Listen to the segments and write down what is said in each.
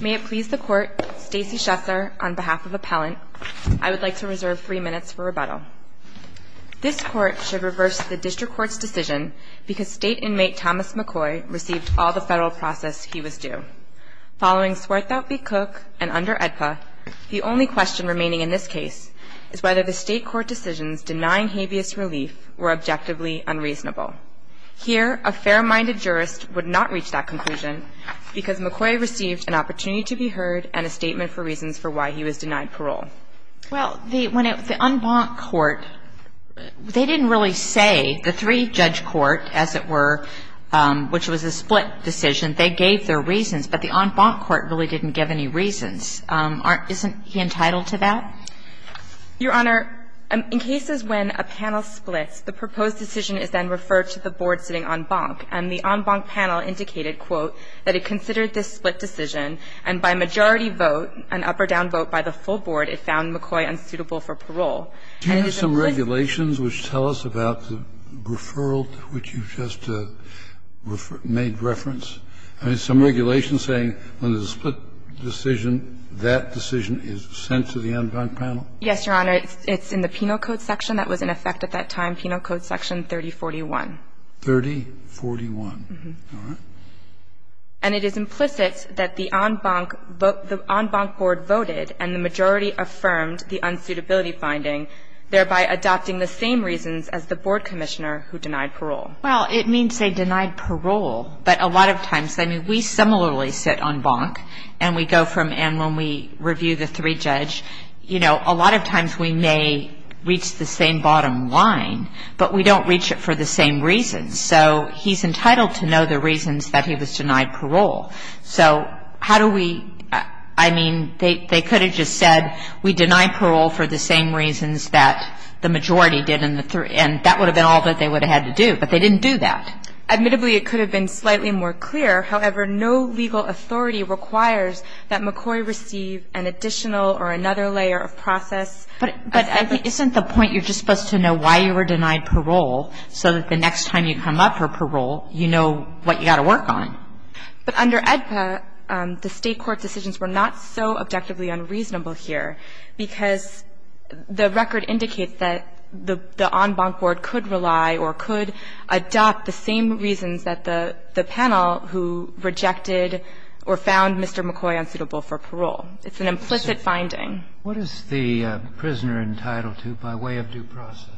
May it please the court, Stacey Schesser on behalf of appellant, I would like to reserve three minutes for rebuttal. This court should reverse the district court's decision because state inmate Thomas McCoy received all the federal process he was due. Following Swarthout v. Cook and under EDPA, the only question remaining in this case is whether the state court decisions denying habeas relief were objectively unreasonable. Here a fair-minded jurist would not reach that conclusion because McCoy received an opportunity to be heard and a statement for reasons for why he was denied parole. Well, the unbanked court, they didn't really say, the three-judge court, as it were, which was a split decision, they gave their reasons, but the unbanked court really didn't give any reasons. Isn't he entitled to that? Your Honor, in cases when a panel splits, the proposed decision is then referred to the board sitting en banc, and the en banc panel indicated, quote, that it considered this split decision, and by majority vote, an up or down vote by the full board, it found McCoy unsuitable for parole. Do you have some regulations which tell us about the referral which you just made reference? I mean, some regulation saying when there's a split decision, that decision is sent to the en banc panel? Yes, Your Honor. It's in the penal code section that was in effect at that time, penal code section 3041. 3041. All right. And it is implicit that the en banc board voted and the majority affirmed the unsuitability finding, thereby adopting the same reasons as the board commissioner who denied parole. Well, it means they denied parole, but a lot of times, I mean, we similarly sit en banc, and we go from, and when we review the three-judge, you know, a lot of times we may reach the same bottom line, but we don't reach it for the same reasons. So he's entitled to know the reasons that he was denied parole. So how do we, I mean, they could have just said we deny parole for the same reasons that the majority did, and that would have been all that they would have had to do, but they didn't do that. Admittedly, it could have been slightly more clear. However, no legal authority requires that McCoy receive an additional or another layer of process. But isn't the point you're just supposed to know why you were denied parole so that the next time you come up for parole, you know what you've got to work on? But under AEDPA, the State court's decisions were not so objectively unreasonable here, because the record indicates that the en banc board could rely or could adopt the same reasons that the panel who rejected or found Mr. McCoy unsuitable for parole. It's an implicit finding. What is the prisoner entitled to by way of due process?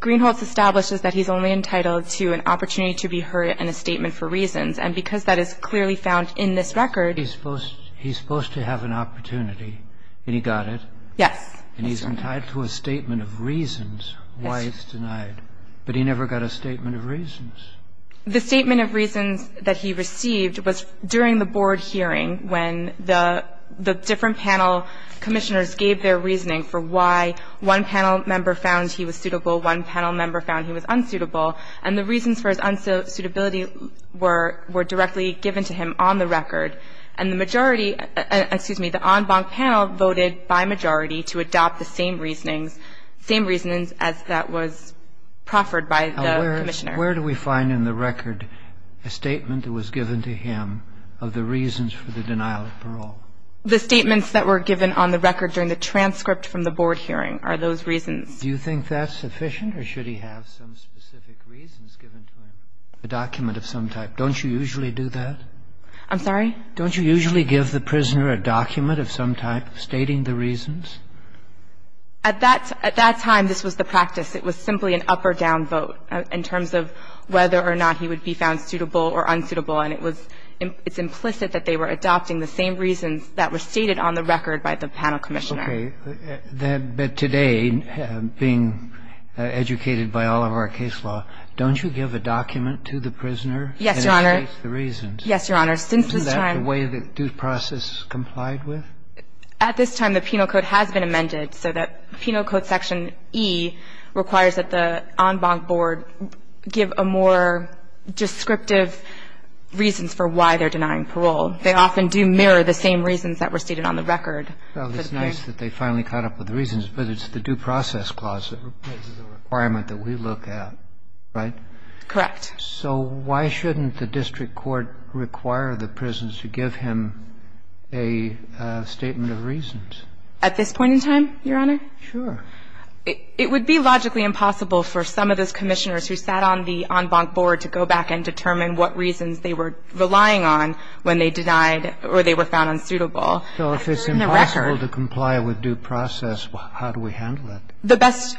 Greenholz establishes that he's only entitled to an opportunity to be heard and a statement for reasons. And because that is clearly found in this record, he's supposed to have an opportunity, and he got it. Yes. And he's entitled to a statement of reasons why it's denied. But he never got a statement of reasons. The statement of reasons that he received was during the board hearing when the different panel commissioners gave their reasoning for why one panel member found he was suitable, one panel member found he was unsuitable. And the reasons for his unsuitability were directly given to him on the record. And the majority – excuse me, the en banc panel voted by majority to adopt the same reasonings, same reasonings as that was proffered by the commissioner. Now, where do we find in the record a statement that was given to him of the reasons for the denial of parole? The statements that were given on the record during the transcript from the board hearing are those reasons. Do you think that's sufficient, or should he have some specific reasons given to him, a document of some type? Don't you usually do that? I'm sorry? Don't you usually give the prisoner a document of some type stating the reasons? At that – at that time, this was the practice. It was simply an up or down vote in terms of whether or not he would be found suitable or unsuitable. And it was – it's implicit that they were adopting the same reasons that were stated on the record by the panel commissioner. Okay. But today, being educated by all of our case law, don't you give a document to the prisoner that states the reasons? Yes, Your Honor. Yes, Your Honor. Since this time – Isn't that the way the due process complied with? At this time, the penal code has been amended, so that penal code section E requires that the en banc board give a more descriptive reasons for why they're denying parole. They often do mirror the same reasons that were stated on the record. Well, it's nice that they finally caught up with the reasons, but it's the due process clause that replaces the requirement that we look at, right? Correct. So why shouldn't the district court require the prisoners to give him a statement of reasons? At this point in time, Your Honor? Sure. It would be logically impossible for some of those commissioners who sat on the en banc board to go back and determine what reasons they were relying on when they denied or they were found unsuitable. So if it's impossible to comply with due process, how do we handle it? The best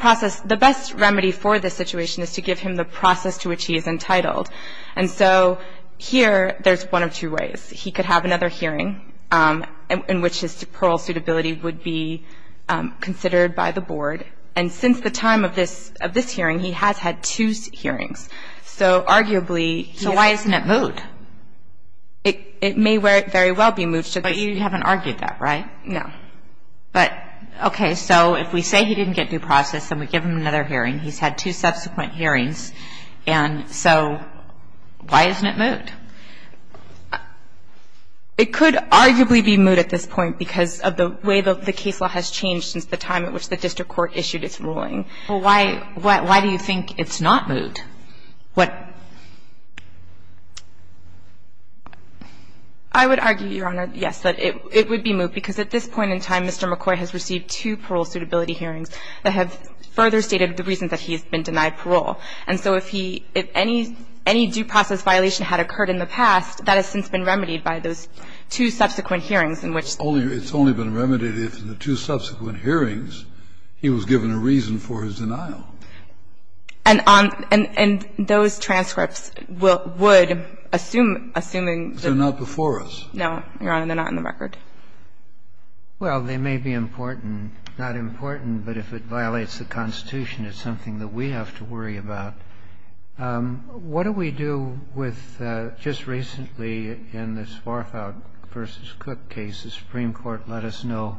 process – the best remedy for this situation is to give him the process to which he is entitled. And so here, there's one of two ways. He could have another hearing in which his parole suitability would be considered by the board. And since the time of this hearing, he has had two hearings. So arguably – So why isn't it moved? It may very well be moved to the – But you haven't argued that, right? No. But, okay, so if we say he didn't get due process and we give him another hearing, he's had two subsequent hearings, and so why isn't it moved? It could arguably be moved at this point because of the way the case law has changed since the time at which the district court issued its ruling. Well, why do you think it's not moved? What – I would argue, Your Honor, yes, that it would be moved because at this point in time, Mr. McCoy has received two parole suitability hearings that have further stated the reason that he has been denied parole. And so if he – if any due process violation had occurred in the past, that has since been remedied by those two subsequent hearings in which the – It's only been remedied if in the two subsequent hearings he was given a reason for his denial. And on – and those transcripts would, assuming – They're not before us. No, Your Honor. They're not in the record. Well, they may be important – not important, but if it violates the Constitution, it's something that we have to worry about. What do we do with – just recently in this Farfalk v. Cook case, the Supreme Court let us know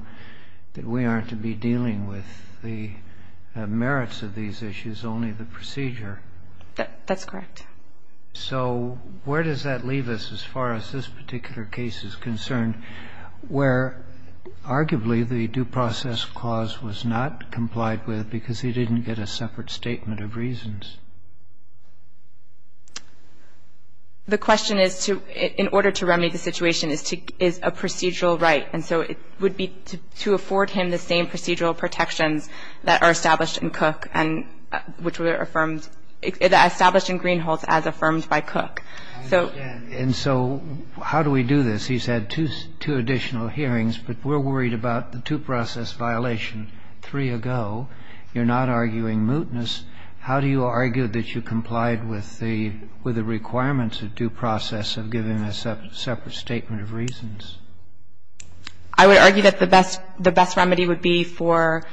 that we aren't to be dealing with the merits of these issues, only the procedure. That's correct. So where does that leave us as far as this particular case is concerned, where arguably the due process clause was not complied with because he didn't get a separate statement of reasons? The question is to – in order to remedy the situation, is a procedural right. And so it would be to afford him the same procedural protections that are established in Cook and which were affirmed – established in Greenhalth as affirmed by Cook. And so how do we do this? He's had two additional hearings, but we're worried about the due process violation three ago. You're not arguing mootness. How do you argue that you complied with the requirements of due process of giving a separate statement of reasons? I would argue that the best remedy would be for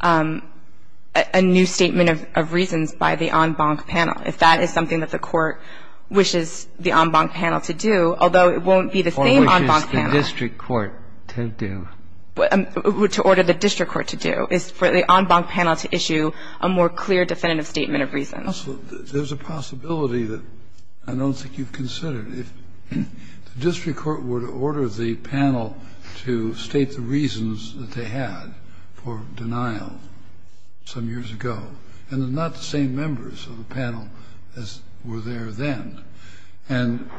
a new statement of reasons by the en banc panel, if that is something that the Court wishes the en banc panel to do, although it won't be the same en banc panel. Or wishes the district court to do. To order the district court to do, is for the en banc panel to issue a more clear definitive statement of reasons. There's a possibility that I don't think you've considered. If the district court were to order the panel to state the reasons that they had for denial some years ago, and they're not the same members of the panel as were there then, and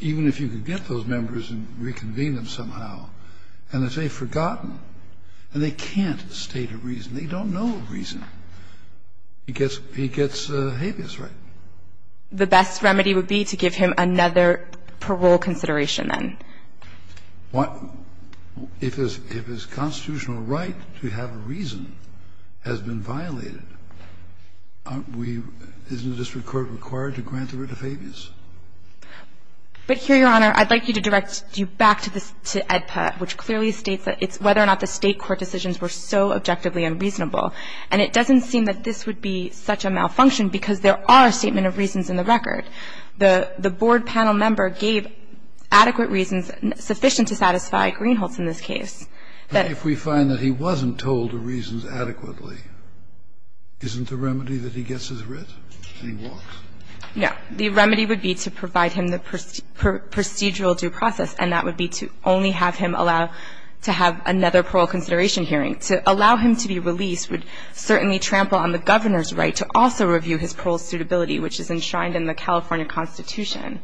even if you could get those members and reconvene them somehow, and if they've forgotten, and they can't state a reason, they don't know a reason, he gets habeas right. The best remedy would be to give him another parole consideration, then. If his constitutional right to have a reason has been violated, aren't we, isn't the district court required to grant the right of habeas? But here, Your Honor, I'd like you to direct you back to this, to AEDPA, which clearly states that it's whether or not the State court decisions were so objectively unreasonable. And it doesn't seem that this would be such a malfunction, because there are statement of reasons in the record. The board panel member gave adequate reasons, sufficient to satisfy Greenholtz in this case. But if we find that he wasn't told the reasons adequately, isn't the remedy that he gets his writ and he walks? No. The remedy would be to provide him the procedural due process, and that would be to only have him allow to have another parole consideration hearing, to allow him to be released would certainly trample on the Governor's right to also review his parole suitability, which is enshrined in the California Constitution.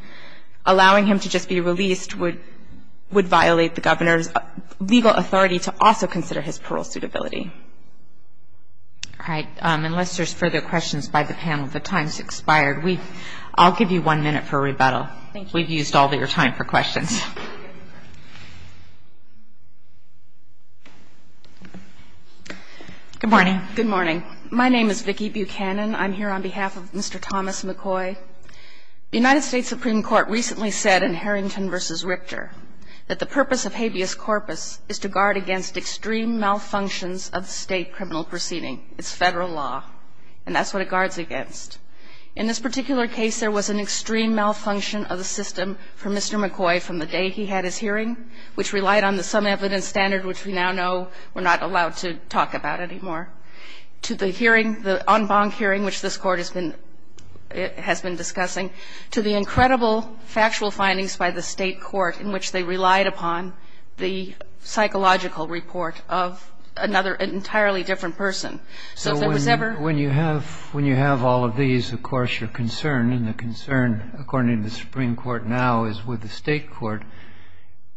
Allowing him to just be released would violate the Governor's legal authority to also consider his parole suitability. All right. Unless there's further questions by the panel, the time's expired. I'll give you one minute for rebuttal. Thank you. We've used all of your time for questions. Good morning. Good morning. My name is Vicki Buchanan. I'm here on behalf of Mr. Thomas McCoy. The United States Supreme Court recently said in Harrington v. Richter that the purpose of habeas corpus is to guard against extreme malfunctions of State criminal proceeding. It's Federal law, and that's what it guards against. In this particular case, there was an extreme malfunction of the system for Mr. McCoy from the day he had his hearing, which relied on the some evidence standard, which we now know we're not allowed to talk about anymore, to the hearing, the en banc hearing, which this Court has been discussing, to the incredible factual findings by the State court in which they relied upon the psychological report of another entirely different person. So if there was ever So when you have all of these, of course, your concern, and the concern, according to the Supreme Court now, is with the State court.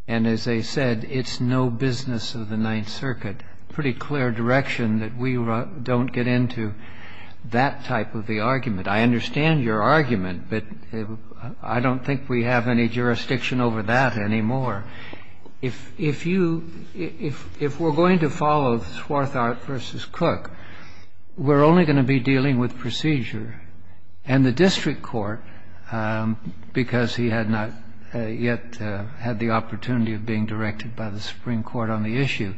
And as they said, it's no business of the Ninth Circuit. Pretty clear direction that we don't get into that type of the argument. I understand your argument, but I don't think we have any jurisdiction over that anymore. If we're going to follow Swarthart v. Cook, we're only going to be dealing with procedure. And the district court, because he had not yet had the opportunity of being directed by the Supreme Court on the issue,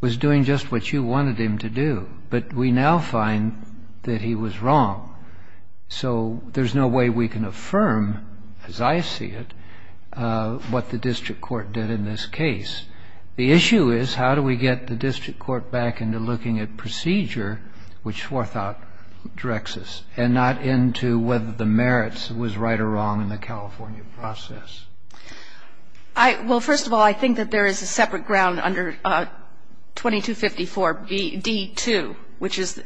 was doing just what you wanted him to do. But we now find that he was wrong. So there's no way we can affirm, as I see it, what the district court did in this case. The issue is, how do we get the district court back into looking at procedure, which Swarthart directs us, and not into whether the merits was right or wrong in the California process? Well, first of all, I think that there is a separate ground under 2254d-2, which is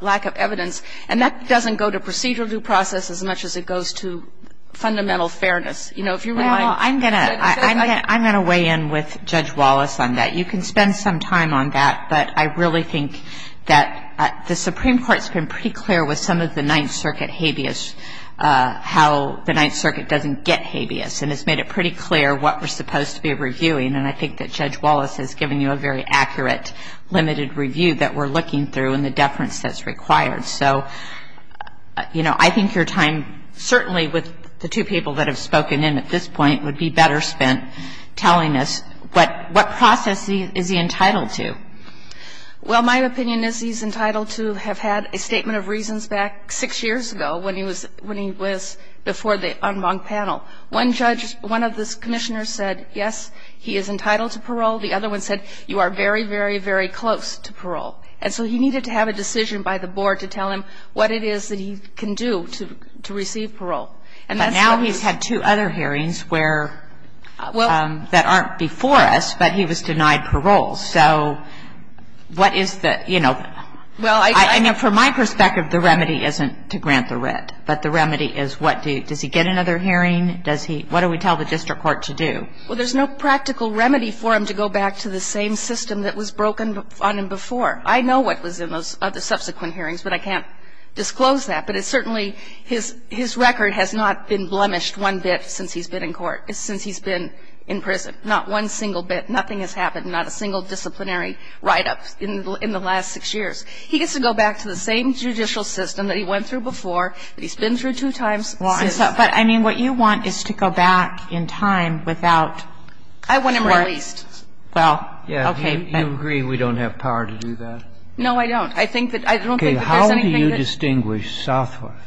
lack of evidence. And that doesn't go to procedural due process as much as it goes to fundamental fairness. You know, if you're going to like to say that, I'm going to weigh in with Judge Wallace on that. You can spend some time on that. But I really think that the Supreme Court's been pretty clear with some of the Ninth Circuit habeas, how the Ninth Circuit doesn't get habeas. And it's made it pretty clear what we're supposed to be reviewing. And I think that Judge Wallace has given you a very accurate, limited review that we're looking through, and the deference that's required. So, you know, I think your time, certainly with the two people that have spoken in at this point, would be better spent telling us what process is he entitled to. Well, my opinion is he's entitled to have had a statement of reasons back six years ago when he was before the Enman panel. One judge, one of the Commissioners said, yes, he is entitled to parole. The other one said, you are very, very, very close to parole. And so he needed to have a decision by the board to tell him what it is that he can do to receive parole. And now he's had two other hearings where that aren't before us, but he was denied parole. So what is the, you know, I know from my perspective the remedy isn't to grant the writ, but the remedy is what do you, does he get another hearing, does he, what do we tell the district court to do? Well, there's no practical remedy for him to go back to the same system that was broken on him before. I know what was in those subsequent hearings, but I can't disclose that. But it's certainly, his record has not been blemished one bit since he's been in court, since he's been in prison. Not one single bit, nothing has happened, not a single disciplinary write-up in the last six years. He gets to go back to the same judicial system that he went through before, that he's been through two times. Sotomayor, but I mean, what you want is to go back in time without parole. I want him released. Well, okay. Do you agree we don't have power to do that? No, I don't. I think that, I don't think that there's anything that's. And that's the situation in Southworth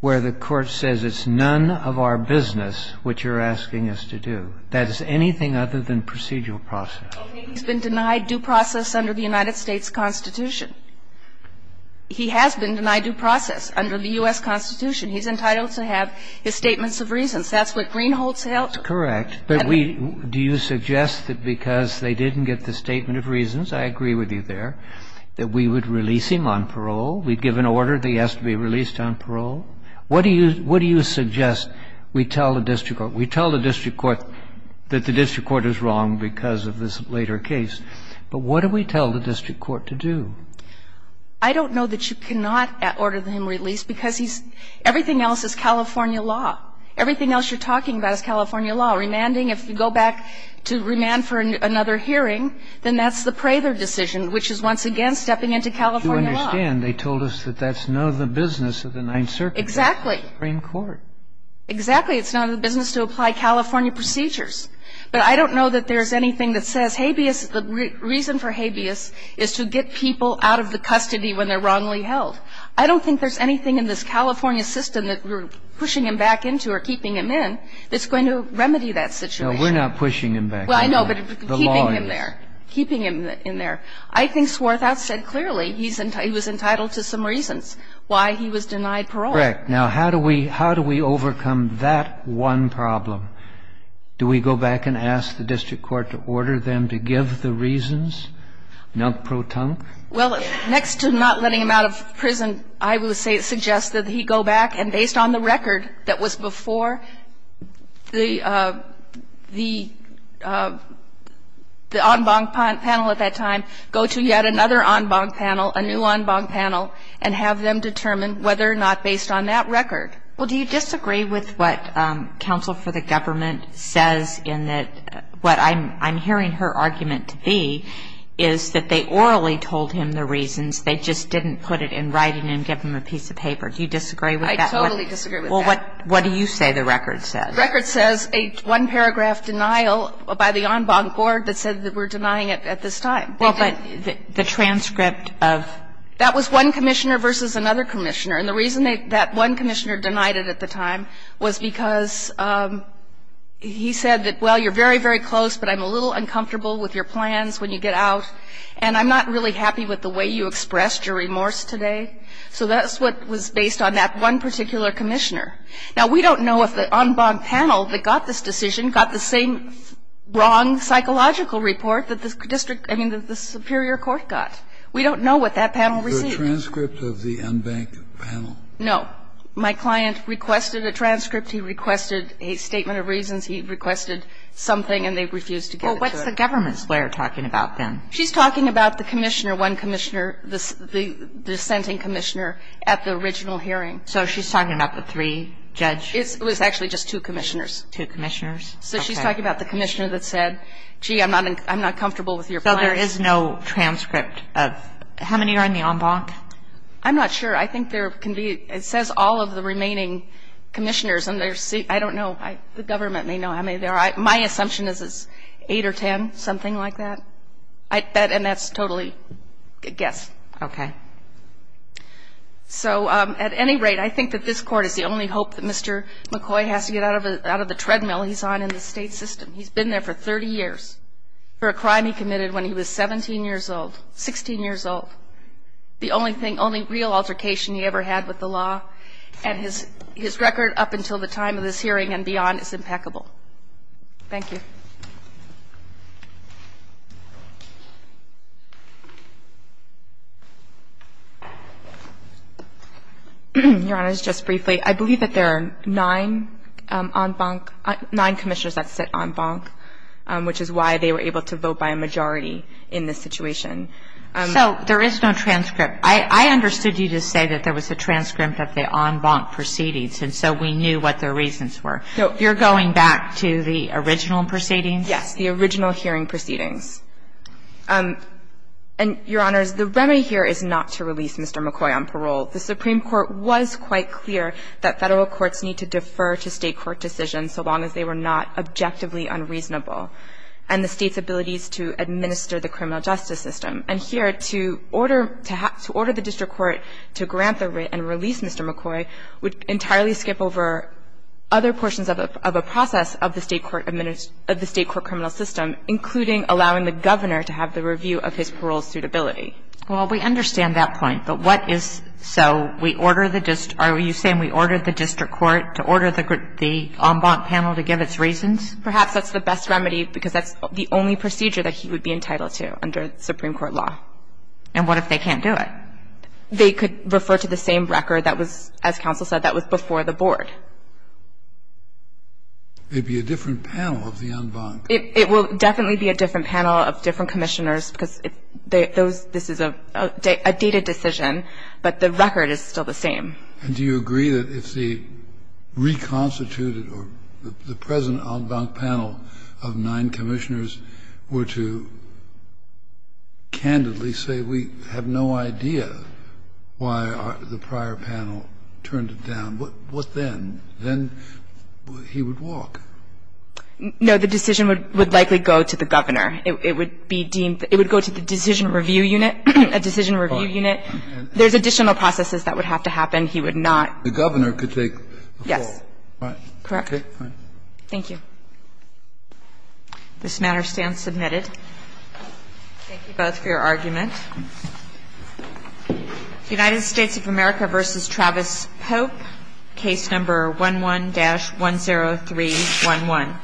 where the court says it's none of our business what you're asking us to do. That is anything other than procedural process. Okay, he's been denied due process under the United States Constitution. He has been denied due process under the U.S. Constitution. He's entitled to have his statements of reasons. That's what Greenholz held. Correct. But we, do you suggest that because they didn't get the statement of reasons, I agree with you there, that we would release him on parole? We'd give an order that he has to be released on parole? What do you, what do you suggest we tell the district court? We tell the district court that the district court is wrong because of this later case. But what do we tell the district court to do? I don't know that you cannot order him released because he's, everything else is California law. Everything else you're talking about is California law. Remanding, if you go back to remand for another hearing, then that's the Prather decision, which is once again stepping into California law. I understand. They told us that that's none of the business of the Ninth Circuit. Exactly. Supreme Court. Exactly. It's none of the business to apply California procedures. But I don't know that there's anything that says habeas, the reason for habeas is to get people out of the custody when they're wrongly held. I don't think there's anything in this California system that we're pushing him back into or keeping him in that's going to remedy that situation. No, we're not pushing him back. Well, I know, but keeping him there, keeping him in there. I think Swarthout said clearly he was entitled to some reasons why he was denied parole. Correct. Now, how do we overcome that one problem? Do we go back and ask the district court to order them to give the reasons, non-protonque? Well, next to not letting him out of prison, I would suggest that he go back and based on the record that was before the en banc panel at that time, go to yet another en banc panel, a new en banc panel, and have them determine whether or not based on that record. Well, do you disagree with what counsel for the government says in that what I'm hearing her argument to be is that they orally told him the reasons, they just didn't put it in writing and give him a piece of paper. Do you disagree with that? I totally disagree with that. Well, what do you say the record says? The record says a one paragraph denial by the en banc board that said that we're denying it at this time. Well, but the transcript of? That was one commissioner versus another commissioner. And the reason that one commissioner denied it at the time was because he said that, well, you're very, very close, but I'm a little uncomfortable with your plans when you get out, and I'm not really happy with the way you expressed your remorse today. So that's what was based on that one particular commissioner. Now, we don't know if the en banc panel that got this decision got the same wrong psychological report that the district – I mean, that the superior court got. We don't know what that panel received. The transcript of the en banc panel? No. My client requested a transcript. He requested a statement of reasons. He requested something, and they refused to give it to us. Well, what's the government's lawyer talking about then? She's talking about the commissioner, one commissioner, the dissenting commissioner at the original hearing. So she's talking about the three judges? It was actually just two commissioners. Two commissioners? So she's talking about the commissioner that said, gee, I'm not comfortable with your plans. So there is no transcript of – how many are in the en banc? I'm not sure. I think there can be – it says all of the remaining commissioners, and there's – I don't know. The government may know how many there are. My assumption is it's eight or ten, something like that. And that's totally a guess. Okay. So, at any rate, I think that this Court is the only hope that Mr. McCoy has to get out of the treadmill he's on in the state system. He's been there for 30 years for a crime he committed when he was 17 years old, 16 years old. The only real altercation he ever had with the law, and his record up until the time of this hearing and beyond is impeccable. Thank you. Your Honor, just briefly, I believe that there are nine en banc – nine commissioners that sit en banc, which is why they were able to vote by a majority in this situation. So there is no transcript. I understood you to say that there was a transcript of the en banc proceedings, and so we knew what the reasons were. So you're going back to the original proceedings? Yes, the original hearing proceedings. And, Your Honors, the remedy here is not to release Mr. McCoy on parole. The Supreme Court was quite clear that Federal courts need to defer to State court decisions so long as they were not objectively unreasonable, and the State's abilities to administer the criminal justice system. And here, to order the district court to grant the writ and release Mr. McCoy would be the best remedy, because that's the only procedure that he would be entitled to under Supreme Court law. And what if they can't do it? They could refer to the same record that was, as counsel said, that was before the Board. the Board. It will definitely be a different panel of different commissioners, because this is a dated decision, but the record is still the same. And do you agree that if the reconstituted or the present en banc panel of nine commissioners were to candidly say we have no idea why the prior panel turned it down, what then? Then he would walk? No, the decision would likely go to the Governor. It would be deemed to go to the decision review unit, a decision review unit. There's additional processes that would have to happen. He would not. The Governor could take the fall. Yes. Correct. Thank you. This matter stands submitted. Thank you both for your argument. United States of America versus Travis Pope, case number 11-10311.